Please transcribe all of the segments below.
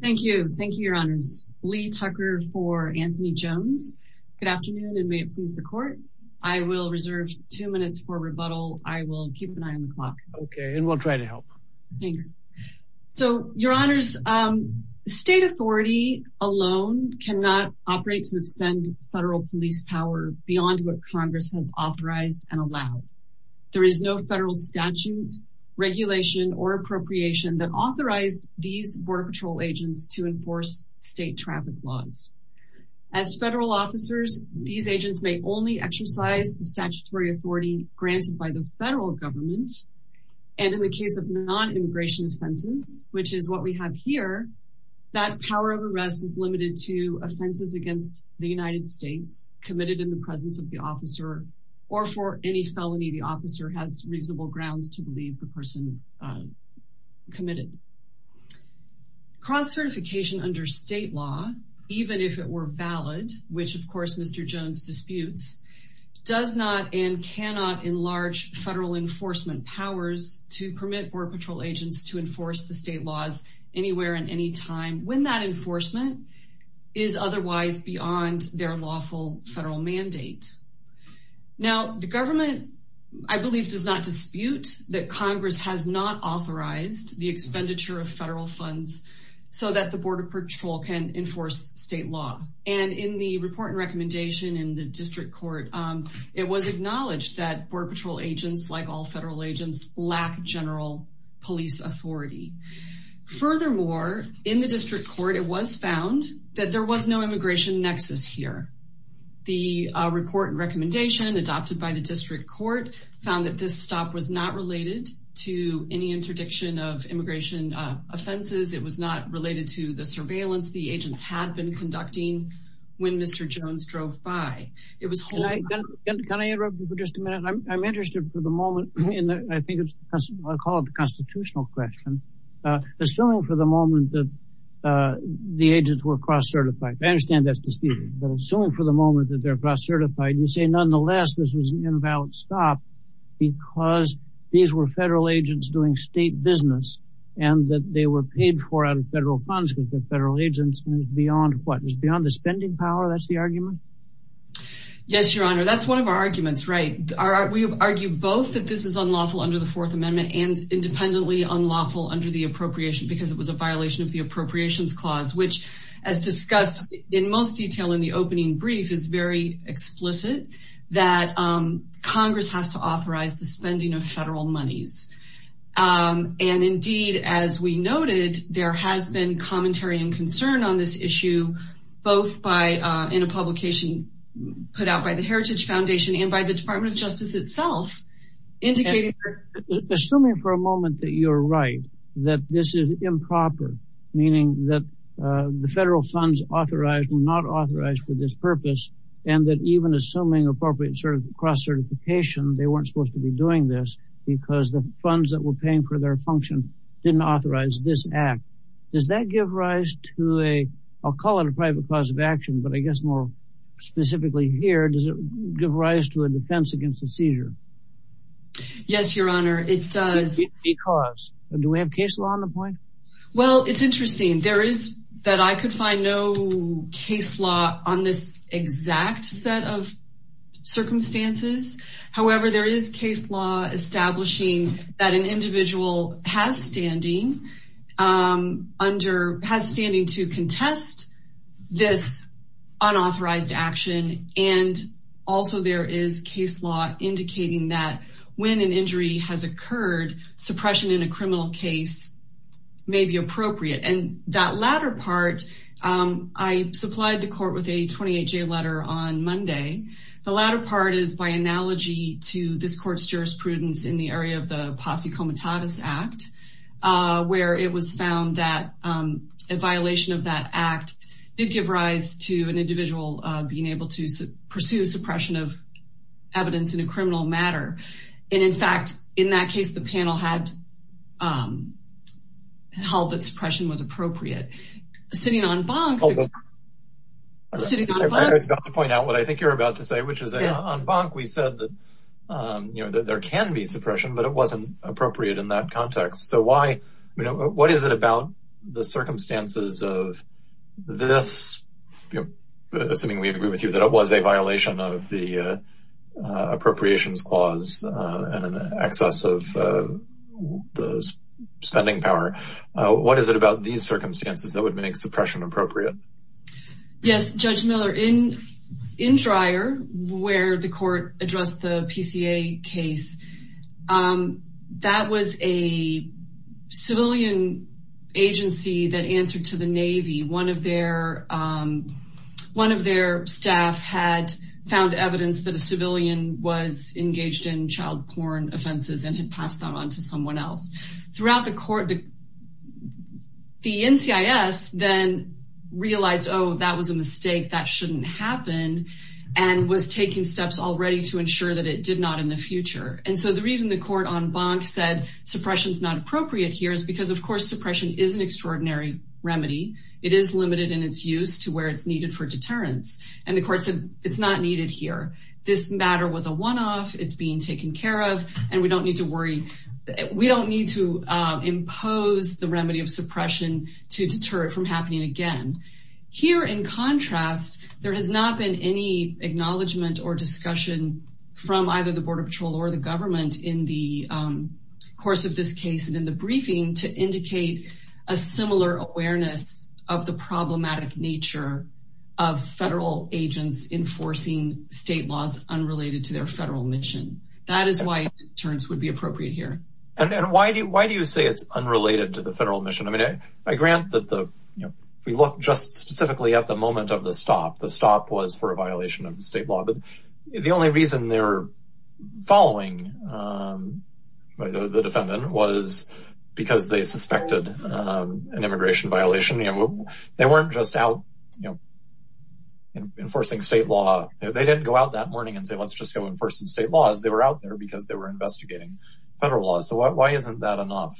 Thank you. Thank you, your honors. Lee Tucker for Anthony Jones. Good afternoon, and may it please the court. I will reserve two minutes for rebuttal. I will keep an eye on the clock. Okay, and we'll try to help. Thanks. So your honors, state authority alone cannot operate to extend federal police power beyond what Congress has authorized and allowed. There is no federal statute, regulation or appropriation that authorized these Border Patrol agents to enforce state traffic laws. As federal officers, these agents may only exercise the statutory authority granted by the federal government. And in the case of non-immigration offenses, which is what we have here, that power of arrest is limited to offenses against the United States committed in the presence of the officer or for any felony the officer has reasonable grounds to believe the person committed. Cross-certification under state law, even if it were valid, which of course Mr. Jones disputes, does not and cannot enlarge federal enforcement powers to permit Border Patrol agents to enforce the state laws anywhere and anytime when that enforcement is otherwise beyond their lawful federal mandate. Now the government, I believe, does not dispute that Congress has not authorized the expenditure of federal funds so that the Border Patrol can enforce state law. And in the report and recommendation in the district court, it was acknowledged that Border Patrol agents, like all federal agents, lack general police authority. Furthermore, in the district court, it was found that there was no immigration nexus here. The report and recommendation adopted by the district court found that this stop was not related to any interdiction of immigration offenses. It was not related to the surveillance the agents had been conducting when Mr. Jones drove by. Can I interrupt you for just a minute? I'm interested for the moment in the, I think it's called the constitutional question, assuming for the moment that the agents were cross-certified. I understand that's disputed, but assuming for the moment that they're cross-certified, you say nonetheless this was an invalid stop because these were federal agents doing state business and that they were paid for out of federal funds because they're federal agents and it's beyond what? It's beyond the spending power? That's the argument? Yes, your honor. That's one of our arguments, right? We argue both that this is unlawful under the fourth amendment and independently unlawful under the appropriation because it was a violation of the appropriations clause, which as discussed in most detail in the opening brief is very explicit that Congress has to authorize the spending of federal monies. And indeed, as we noted, there has been commentary and concern on this issue, both in a publication put out by the Heritage Foundation and by the Department of Justice itself. Assuming for a moment that you're right, that this is improper, meaning that the federal funds authorized were not authorized for this purpose and that even assuming appropriate sort of cross-certification, they weren't supposed to be doing this because the funds that were paying for their function didn't authorize this act. Does that give rise to a, I'll call it a private cause of action, but I guess more specifically here, does it give rise to a defense against the seizure? Yes, your honor, it does. Is it a cause? Do we have case law on the point? Well, it's interesting. There is that I could find no case law on this exact set of circumstances. However, there is case law establishing that an individual has standing to contest this unauthorized action. And also there is case law indicating that when an injury has occurred, suppression in a criminal case may be appropriate. And that latter part, I supplied the court with a analogy to this court's jurisprudence in the area of the Posse Comitatus Act, where it was found that a violation of that act did give rise to an individual being able to pursue suppression of evidence in a criminal matter. And in fact, in that case, the panel had held that suppression was appropriate. Sitting on bonk. I was about to point out what I think you're about to say, which is on bonk, we said that there can be suppression, but it wasn't appropriate in that context. So why, what is it about the circumstances of this? Assuming we agree with you that it was a violation of the appropriations clause and an excess of the spending power. What is it about these circumstances that would make suppression appropriate? Yes, Judge Miller, in Dreyer, where the court addressed the PCA case, that was a civilian agency that answered to the Navy. One of their staff had found evidence that a civilian was engaged in child porn offenses and had passed them on to someone else. Throughout court, the NCIS then realized, oh, that was a mistake, that shouldn't happen, and was taking steps already to ensure that it did not in the future. And so the reason the court on bonk said suppression is not appropriate here is because, of course, suppression is an extraordinary remedy. It is limited in its use to where it's needed for deterrence. And the court said it's not needed here. This matter was a one-off, it's being taken care of, and we don't need to impose the remedy of suppression to deter it from happening again. Here, in contrast, there has not been any acknowledgement or discussion from either the Border Patrol or the government in the course of this case and in the briefing to indicate a similar awareness of the problematic nature of federal agents enforcing state laws unrelated to their federal mission. That is why deterrence would be appropriate here. And why do you say it's unrelated to the federal mission? I mean, I grant that we look just specifically at the moment of the stop. The stop was for a violation of the state law, but the only reason they're following the defendant was because they suspected an immigration violation. They weren't just out enforcing state law. They didn't go out that morning and say, let's just go enforce some state laws. They were out there because they were investigating federal laws. So why isn't that enough?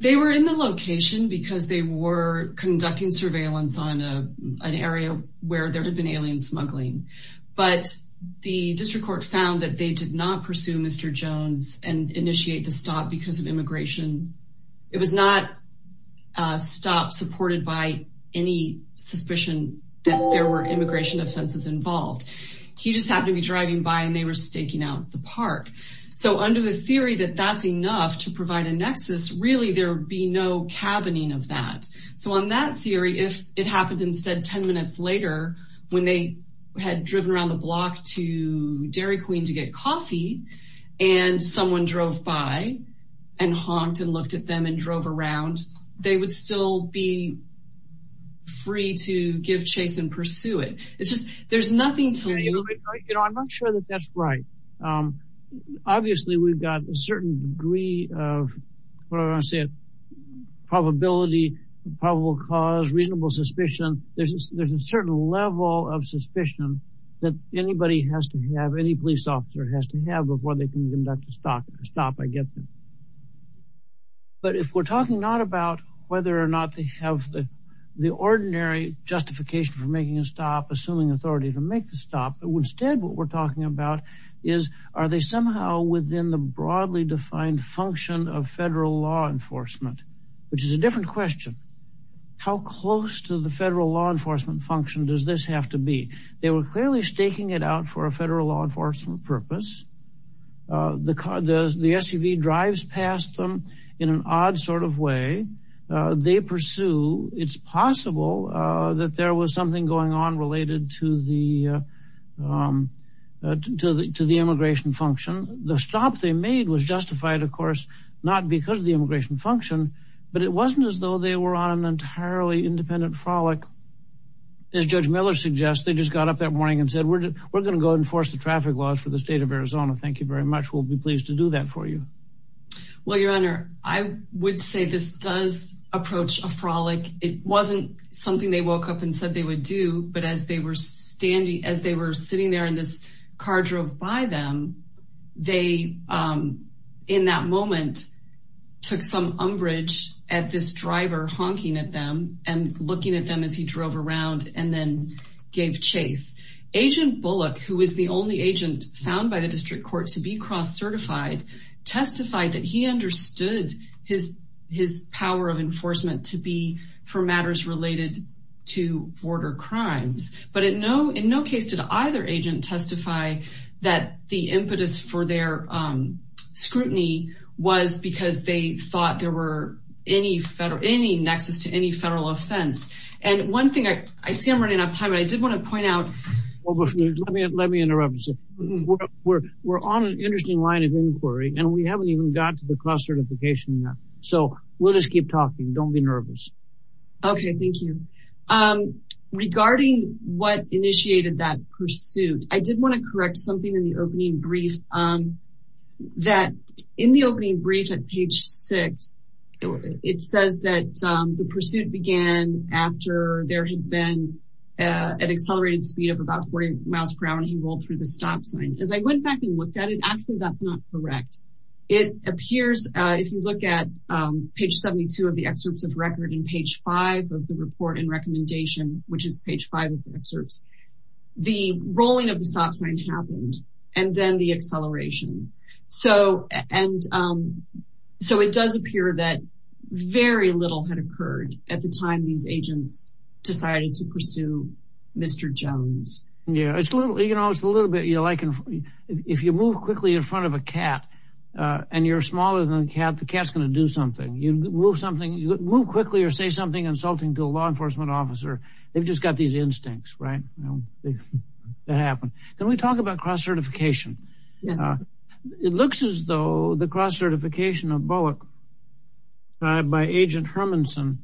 They were in the location because they were conducting surveillance on an area where there had been alien smuggling. But the district court found that they did not pursue Mr. Jones and initiate the stop because of immigration. It was not a stop supported by any suspicion that there were immigration offenses involved. He just happened to be driving by and they were staking out the park. So under the theory that that's enough to provide a nexus, really there would be no cabining of that. So on that theory, if it happened instead 10 minutes later when they had driven around the block to Dairy Queen to get coffee and someone drove by and honked and looked at them and drove around, they would still be free to give chase and pursue it. It's just, there's nothing to it. I'm not sure that that's right. Obviously, we've got a certain degree of probability, probable cause, reasonable suspicion. There's a certain level of suspicion that anybody has to have, any police officer has to have before they can conduct a stop. But if we're talking not about whether or not they have the ordinary justification for making a stop, assuming authority to make the stop, but instead what we're talking about is are they somehow within the broadly defined function of federal law enforcement, which is a different question. How close to the federal law enforcement function does this have to be? They were clearly staking it out for a federal law enforcement purpose. The SUV drives past them in an odd way. They pursue, it's possible that there was something going on related to the immigration function. The stop they made was justified, of course, not because of the immigration function, but it wasn't as though they were on an entirely independent frolic. As Judge Miller suggests, they just got up that morning and said, we're going to go enforce the traffic laws for the state of Arizona. Thank you very much. We'll be pleased to do that for you. Well, your honor, I would say this does approach a frolic. It wasn't something they woke up and said they would do, but as they were standing, as they were sitting there in this car drove by them, they in that moment took some umbrage at this driver honking at them and looking at them as he drove around and then gave chase. Agent Bullock, who is the agent found by the district court to be cross-certified, testified that he understood his power of enforcement to be for matters related to border crimes. But in no case did either agent testify that the impetus for their scrutiny was because they thought there were any federal, any nexus to any federal offense. And one thing I see I'm running out of time, but I did want to point out. Let me interrupt. We're on an interesting line of inquiry and we haven't even got to the cross-certification yet. So we'll just keep talking. Don't be nervous. Okay. Thank you. Regarding what initiated that pursuit, I did want to correct something in the opening brief that in the opening brief at page six, it says that the pursuit began after there had been an accelerated speed of about 40 miles per hour and he rolled through the stop sign. As I went back and looked at it, actually that's not correct. It appears if you look at page 72 of the excerpts of record and page five of the report and recommendation, which is page five of the excerpts, the rolling of the stop sign happened and then the acceleration. So it does appear that very little had occurred at the time these agents decided to pursue Mr. Jones. Yeah. It's a little bit like if you move quickly in front of a cat and you're smaller than the cat, the cat's going to do something. You move something, you move quickly or say something insulting to a law enforcement officer. They've just got these instincts, right? That happened. Can we talk about cross-certification? Yes. It looks as though the cross-certification of Bullock by Agent Hermanson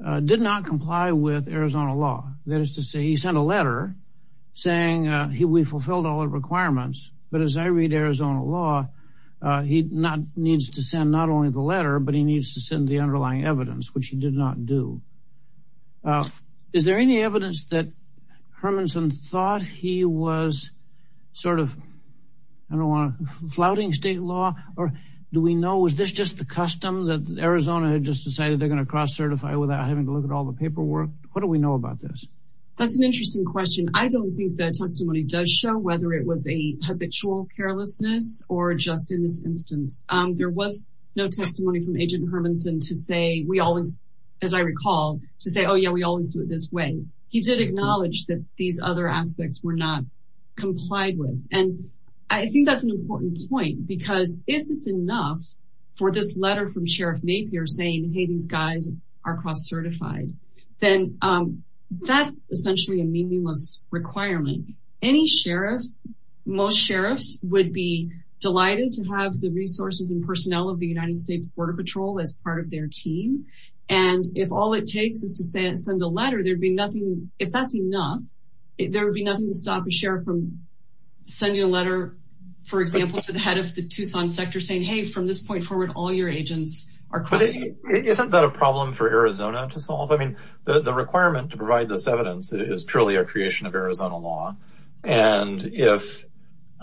did not comply with Arizona law. That is to say, he sent a letter saying we fulfilled all the requirements. But as I read Arizona law, he needs to send not only the letter, but he needs to send the underlying evidence, which he did not do. Is there any evidence that Hermanson thought he was sort of flouting state law? Or do we know, is this just the custom that Arizona had just decided they're going to cross-certify without having to look at all the paperwork? What do we know about this? That's an interesting question. I don't think the testimony does show whether it was a habitual carelessness or just in this instance. There was no testimony from Agent Hermanson to say we always, as I recall, to say, oh yeah, we always do it this way. He did acknowledge that these other aspects were not for this letter from Sheriff Napier saying, hey, these guys are cross-certified. Then that's essentially a meaningless requirement. Any sheriff, most sheriffs would be delighted to have the resources and personnel of the United States Border Patrol as part of their team. And if all it takes is to send a letter, there'd be nothing, if that's enough, there would be nothing to stop a sheriff from sending a letter, for example, to the head of the Tucson sector saying, hey, from this point forward, all your agents are crossing. But isn't that a problem for Arizona to solve? I mean, the requirement to provide this evidence is purely a creation of Arizona law. And if,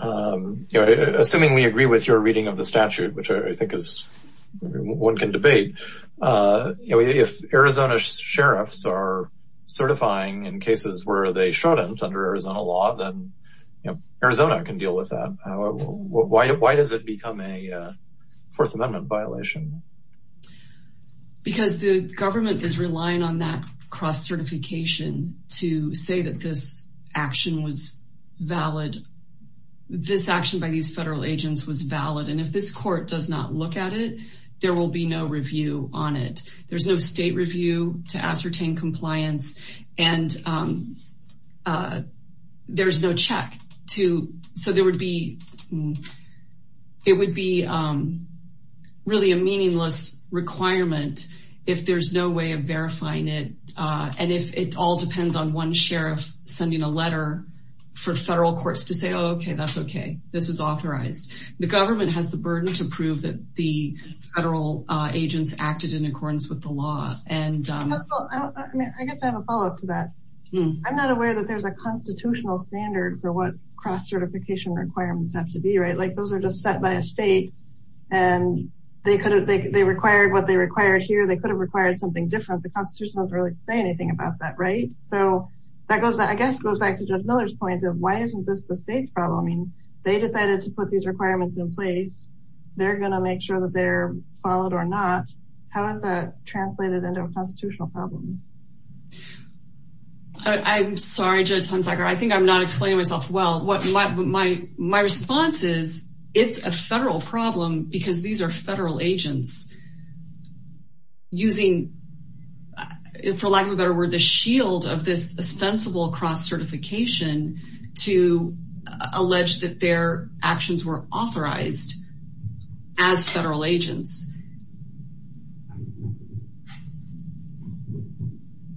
you know, assuming we agree with your reading of the statute, which I think is, one can debate, you know, if Arizona sheriffs are certifying in cases where they shouldn't under law, then Arizona can deal with that. Why does it become a Fourth Amendment violation? Because the government is relying on that cross-certification to say that this action was valid. This action by these federal agents was valid. And if this court does not look at it, there will be no review on it. There's no state review to ascertain compliance. And there's no check to, so there would be, it would be really a meaningless requirement, if there's no way of verifying it. And if it all depends on one sheriff sending a letter for federal courts to say, okay, that's okay, this is authorized. The government has the burden to prove that the federal agents acted in accordance with the law. And I guess I have a follow up to that. I'm not aware that there's a constitutional standard for what cross-certification requirements have to be, right? Like those are just set by a state and they could have, they required what they required here. They could have required something different. The constitution doesn't really say anything about that. Right. So that goes back, I guess it goes back to Judge Miller's point of why isn't this the state's problem? I mean, they decided to put these requirements in place. They're going to make sure that they're followed or not. How has that translated into a constitutional problem? I'm sorry, Judge Hunsaker. I think I'm not explaining myself well. My response is it's a federal problem because these are federal agents using, for lack of a better word, the shield of this ostensible cross-certification to allege that their actions were authorized as federal agents.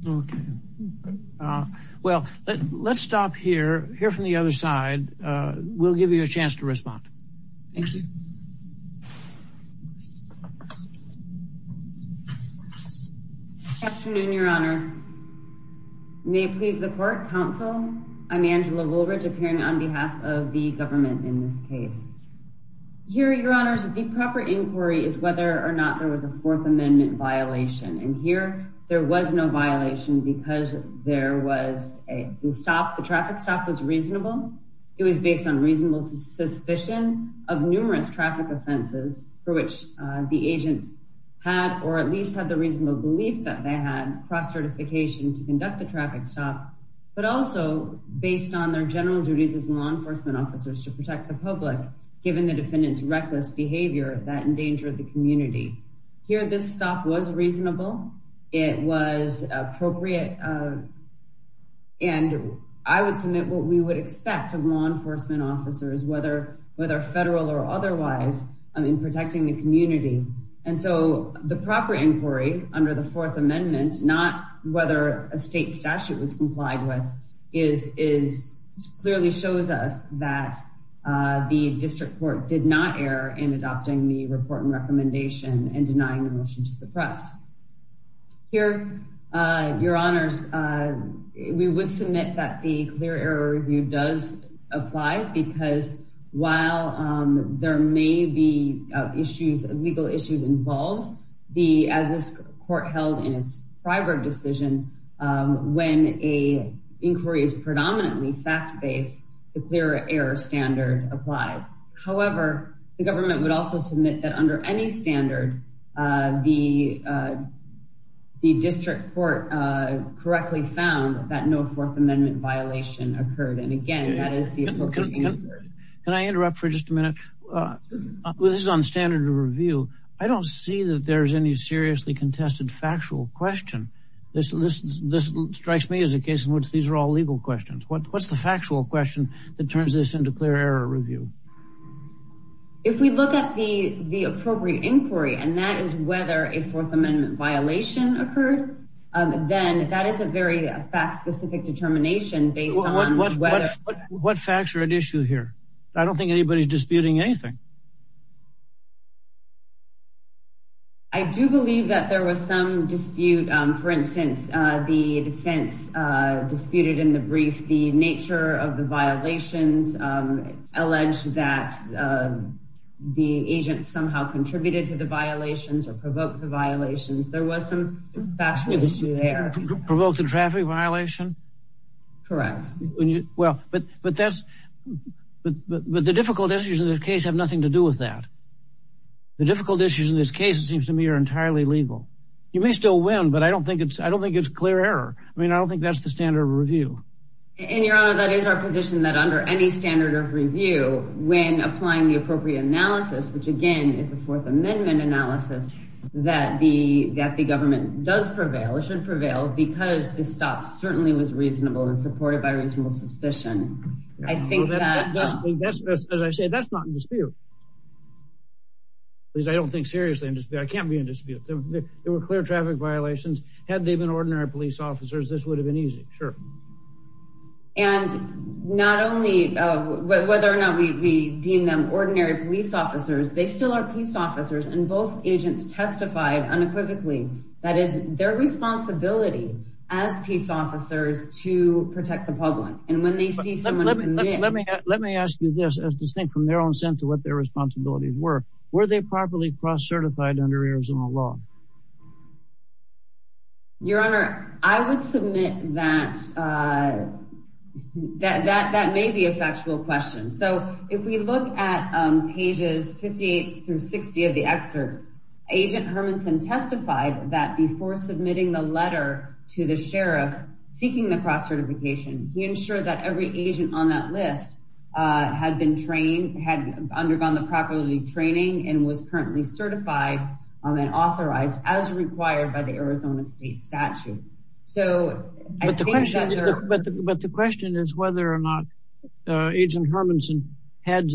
Okay. Well, let's stop here, here from the other side. We'll give you a chance to respond. Thank you. Afternoon, Your Honors. May it please the court, counsel. I'm Angela Woolridge appearing on behalf of the government in this case. Here, Your Honors, the proper inquiry is whether or not there was a violation because there was a stop, the traffic stop was reasonable. It was based on reasonable suspicion of numerous traffic offenses for which the agents had or at least had the reasonable belief that they had cross-certification to conduct the traffic stop, but also based on their general duties as law enforcement officers to protect the public, given the defendant's appropriate, and I would submit what we would expect of law enforcement officers, whether federal or otherwise, in protecting the community. And so the proper inquiry under the Fourth Amendment, not whether a state statute was complied with, clearly shows us that the district court did not err in adopting the report and recommendation and denying the motion to suppress. Here, Your Honors, we would submit that the clear error review does apply because while there may be issues, legal issues involved, as this court held in its private decision, when a inquiry is predominantly fact-based, the clear error standard applies. However, the government would also submit that under any standard, the district court correctly found that no Fourth Amendment violation occurred. And again, that is the appropriate inquiry. Can I interrupt for just a minute? This is on standard of review. I don't see that there's any seriously contested factual question. This strikes me as a case in which these are all legal questions. What's the factual question that turns this into clear error review? If we look at the appropriate inquiry, and that is whether a Fourth Amendment violation occurred, then that is a very fact-specific determination based on whether... What facts are at issue here? I don't think anybody's disputing anything. I do believe that there was some dispute. For instance, the defense disputed in the brief, the nature of the violations alleged that the agent somehow contributed to the violations or provoked the violations. There was some factual issue there. Provoked the traffic violation? Correct. But the difficult issues in this case have nothing to do with that. The difficult issues in this case, it seems to me, are entirely legal. You may still win, but I don't think it's clear error. I mean, I don't think that's the standard of review. And Your Honor, that is our position that under any standard of review, when applying the appropriate analysis, which again is the Fourth Amendment analysis, that the government does prevail, it should prevail, because the stop certainly was reasonable and supported by reasonable suspicion. I think that... As I say, that's not in dispute. Please, I don't think seriously in dispute. I can't be in dispute. There were clear traffic violations. Had they been ordinary police officers, this would have been easy. Sure. And not only whether or not we deem them ordinary police officers, they still are peace officers, and both agents testified unequivocally that it's their responsibility as peace officers to protect the public. And when they see someone commit... Let me ask you this, as distinct from their own sense of what their responsibilities were, were they properly cross-certified under Arizona law? Your Honor, I would submit that that may be a factual question. So, if we look at pages 58 through 60 of the excerpts, Agent Hermanson testified that before submitting the letter to the sheriff seeking the cross-certification, he ensured that every agent on that list had been trained, had undergone the proper training, and was currently certified and authorized as required by the Arizona state statute. But the question is whether or not Agent Hermanson had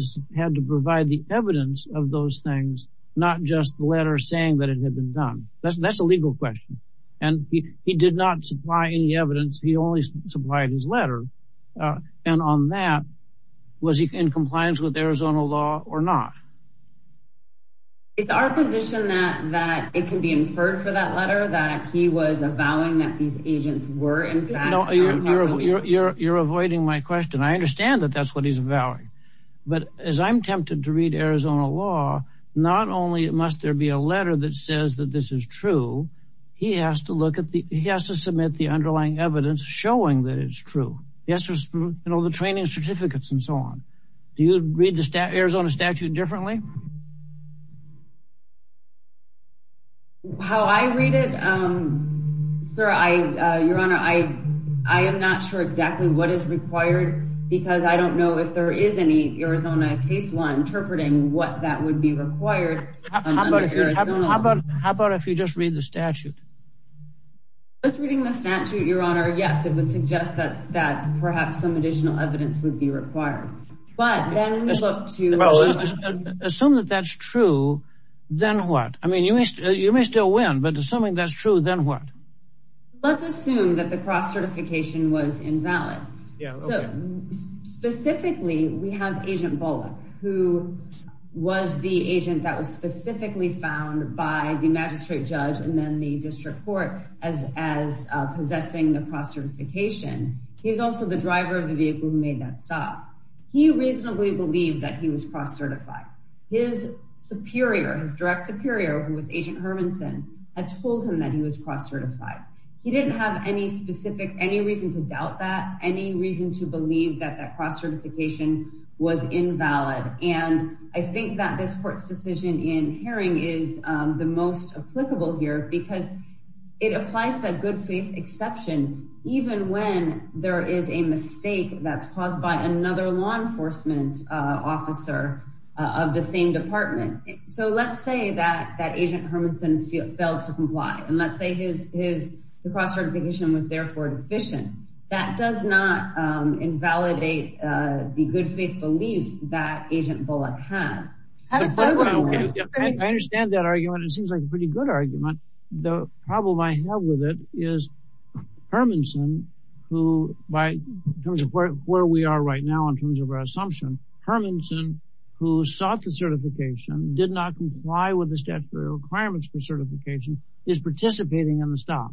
to provide the evidence of those things, not just the letter saying that it had been done. That's a legal question. And he did not supply any evidence. He only supplied his letter. And on that, was he in compliance with Arizona law or not? It's our position that it can be inferred for that letter, that he was avowing that these agents were, in fact... No, you're avoiding my question. I understand that that's what he's avowing. But as I'm tempted to read Arizona law, not only must there be a letter that says that this is true, he has to look at the... He has to submit the underlying evidence showing that it's true. He has to, you know, the training certificates and so on. Do you read the Arizona statute differently? How I read it, sir, Your Honor, I am not sure exactly what is required, because I don't know if there is any Arizona case law interpreting what that would be required. How about if you just read the statute? Just reading the statute, Your Honor, yes, it would suggest that perhaps some additional evidence would be required. But then we look to... Assume that that's true, then what? I mean, you may still win, but assuming that's true, then what? Let's assume that the cross-certification was invalid. Specifically, we have Agent Bullock, who was the agent that was specifically found by the magistrate judge and then the district court as possessing the cross-certification. He's also the driver of the vehicle who made that stop. He reasonably believed that he was cross-certified. His superior, his direct superior, who was Agent Hermanson, had told him that he was cross-certified. He didn't have any reason to doubt that, any reason to believe that that cross-certification was invalid. And I think that this court's decision in hearing is the most applicable here, because it applies that good faith exception, even when there is a mistake that's caused by another law enforcement officer of the same department. So let's say that Agent Hermanson failed to comply, and let's say his cross-certification was therefore deficient. That does not invalidate the good faith belief that Agent Bullock had. I understand that argument. It seems like a pretty good argument. The problem I have with it is Hermanson, who by terms of where we are right now, in terms of our assumption, Hermanson, who sought the certification, did not comply with the statutory requirements for certification, is participating in the stop.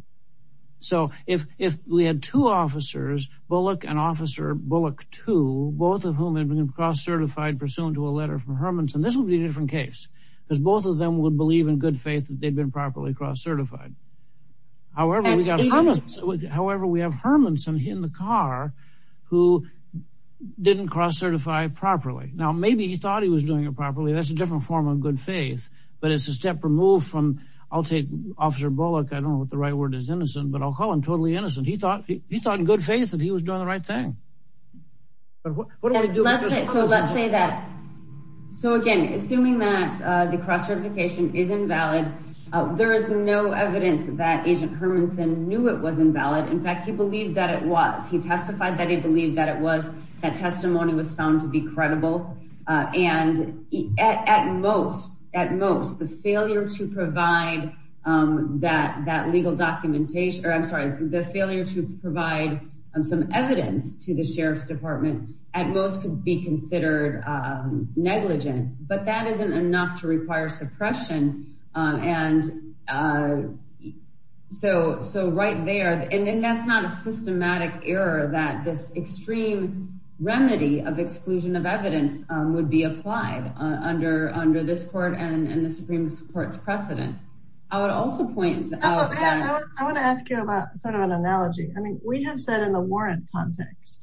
So if we had two officers, Bullock and Officer Bullock II, both of whom had been cross-certified pursuant to a letter from Hermanson, this would be a different case, because both of them would believe in good faith that they'd been properly cross-certified. However, we have Hermanson in the car, who didn't cross-certify properly. Now, maybe he thought he was doing it properly. That's a different form of good faith, but it's a step removed from, I'll take Officer Bullock, I don't know what the right word is, innocent, but I'll call him totally innocent. He thought in good faith. So again, assuming that the cross-certification is invalid, there is no evidence that Agent Hermanson knew it was invalid. In fact, he believed that it was. He testified that he believed that it was. That testimony was found to be credible. And at most, at most, the failure to provide that legal documentation, or I'm sorry, the failure to provide some evidence to the Sheriff's Department, at most could be considered negligent, but that isn't enough to require suppression. And so right there, and then that's not a systematic error that this extreme remedy of exclusion of evidence would be applied under this court and the Supreme Court's precedent. I would also point out that- I want to ask you about sort of an analogy. I mean, we have said in the warrant context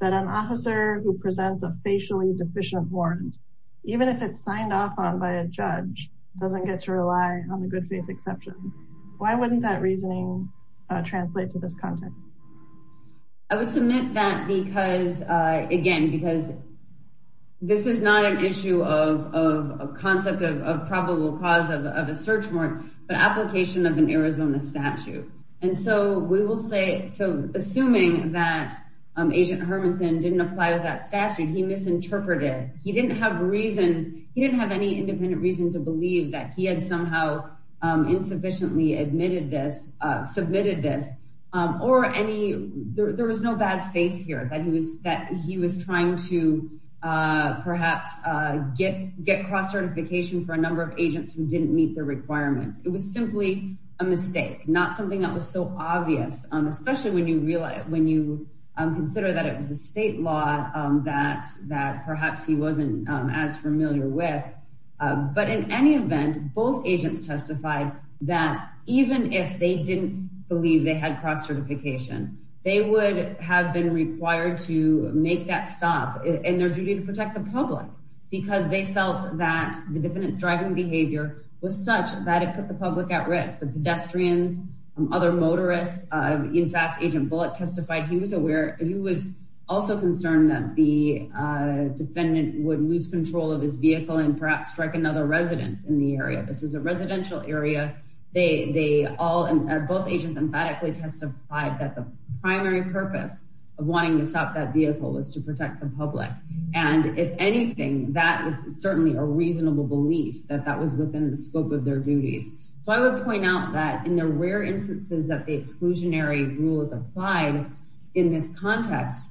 that an officer who presents a facially deficient warrant, even if it's signed off on by a judge, doesn't get to rely on the good faith exception. Why wouldn't that reasoning translate to this context? I would submit that because, again, because this is not an issue of a concept of probable cause of a search warrant, but application of Arizona statute. And so we will say, so assuming that Agent Hermanson didn't apply with that statute, he misinterpreted. He didn't have reason. He didn't have any independent reason to believe that he had somehow insufficiently admitted this, submitted this, or any, there was no bad faith here that he was, that he was trying to perhaps get, get cross certification for a number of a mistake, not something that was so obvious, especially when you realize, when you consider that it was a state law that, that perhaps he wasn't as familiar with. But in any event, both agents testified that even if they didn't believe they had cross certification, they would have been required to make that stop in their duty to protect the public, because they felt that the defendant's driving behavior was such that it put the public at risk. The pedestrians, other motorists, in fact, Agent Bullock testified, he was aware, he was also concerned that the defendant would lose control of his vehicle and perhaps strike another residence in the area. This was a residential area. They, they all, both agents emphatically testified that the primary purpose of wanting to stop that vehicle was to protect the public. And if anything, that was certainly a reasonable belief that that was within the scope of their duties. So I would point out that in the rare instances that the exclusionary rule is applied in this context,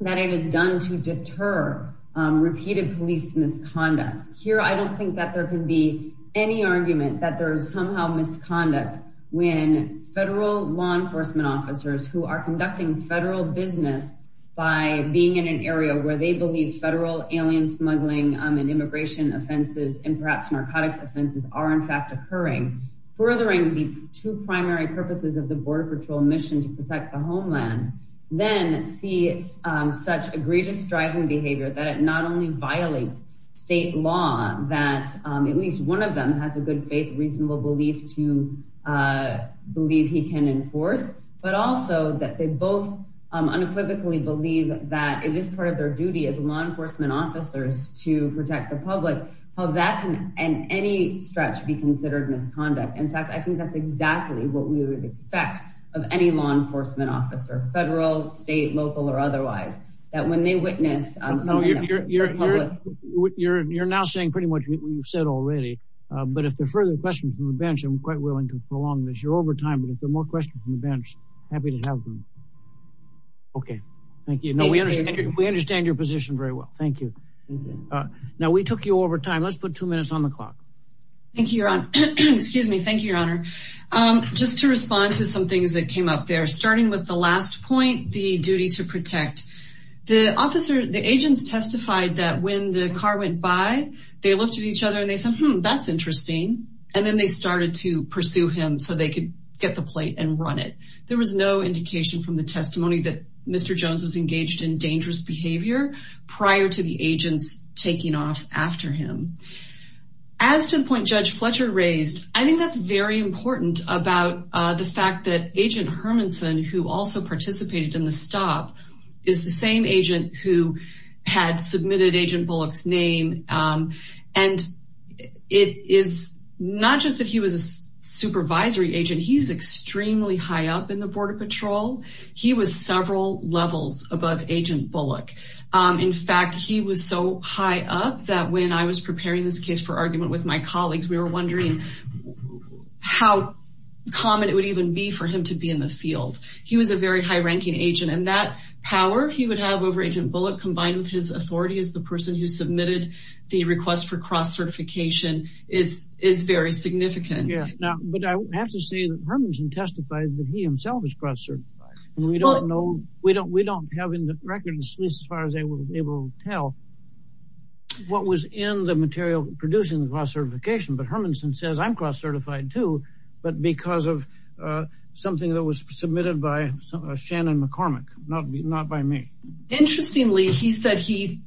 that it is done to deter repeated police misconduct. Here, I don't think that there can be any argument that there is somehow misconduct when federal law enforcement officers who are in immigration offenses and perhaps narcotics offenses are in fact occurring, furthering the two primary purposes of the Border Patrol mission to protect the homeland, then see such egregious driving behavior that it not only violates state law that at least one of them has a good faith, reasonable belief to believe he can enforce, but also that they both unequivocally believe that it is part of their duty as law enforcement officers to protect the public, how that can in any stretch be considered misconduct. In fact, I think that's exactly what we would expect of any law enforcement officer, federal, state, local, or otherwise, that when they witness, you're, you're, you're, you're, you're now saying pretty much what you've said already. But if there are further questions from the bench, I'm quite willing to prolong this. You're over time, but if there are more questions from the bench, happy to have them. Okay. Thank you. No, we understand. We understand your position very well. Thank you. Now we took you over time. Let's put two minutes on the clock. Thank you, Your Honor. Excuse me. Thank you, Your Honor. Just to respond to some things that came up there, starting with the last point, the duty to protect the officer, the agents testified that when the car went by, they looked at each other and they said, Hmm, that's interesting. And then they started to pursue him so they could get the plate and run it. There was no indication from the Mr. Jones was engaged in dangerous behavior prior to the agents taking off after him. As to the point Judge Fletcher raised, I think that's very important about the fact that Agent Hermanson, who also participated in the stop, is the same agent who had submitted Agent Bullock's name. And it is not just that he was a supervisory agent. He's extremely high up in the Border Patrol. He was several levels above Agent Bullock. In fact, he was so high up that when I was preparing this case for argument with my colleagues, we were wondering how common it would even be for him to be in the field. He was a very high ranking agent and that power he would have over Agent Bullock combined with his authority as the person who submitted the request for cross certification is very significant. But I have to say that Hermanson testified that he was cross certified. We don't have in the records as far as they were able to tell what was in the material producing the cross certification. But Hermanson says I'm cross certified too, but because of something that was submitted by Shannon McCormick, not by me. Interestingly, he said he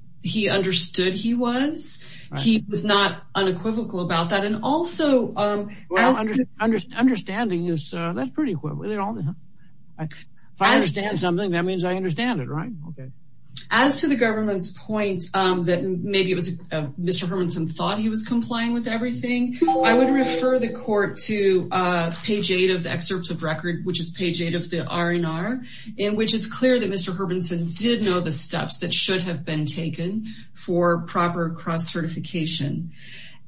understood he was. He was not unequivocal about that. And also well, understanding is that's pretty quick. If I understand something, that means I understand it, right? OK, as to the government's point that maybe it was Mr. Hermanson thought he was complying with everything. I would refer the court to page eight of the excerpts of record, which is page eight of the R&R, in which it's clear that Mr. Hermanson did know the steps that should have been taken for proper cross certification.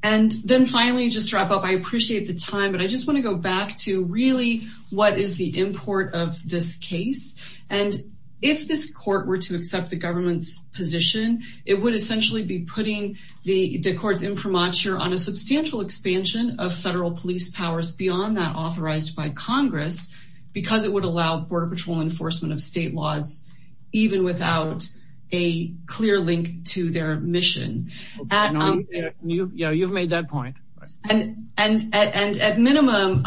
And then finally, just to wrap up, I appreciate the time, but I just want to go back to really what is the import of this case. And if this court were to accept the government's position, it would essentially be putting the courts imprimatur on a substantial expansion of federal police powers beyond that authorized by Congress, because it would allow Border Patrol enforcement of state laws, even without a clear link to their mission. Yeah, you've made that point. And at minimum,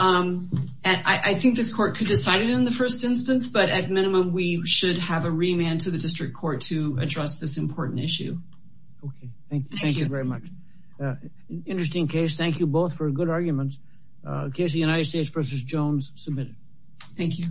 I think this court could decide it in the first instance, but at minimum, we should have a remand to the district court to address this important issue. OK, thank you. Thank you very much. Interesting case. Thank you both for good arguments. Casey, United States v. Jones, submitted. Thank you.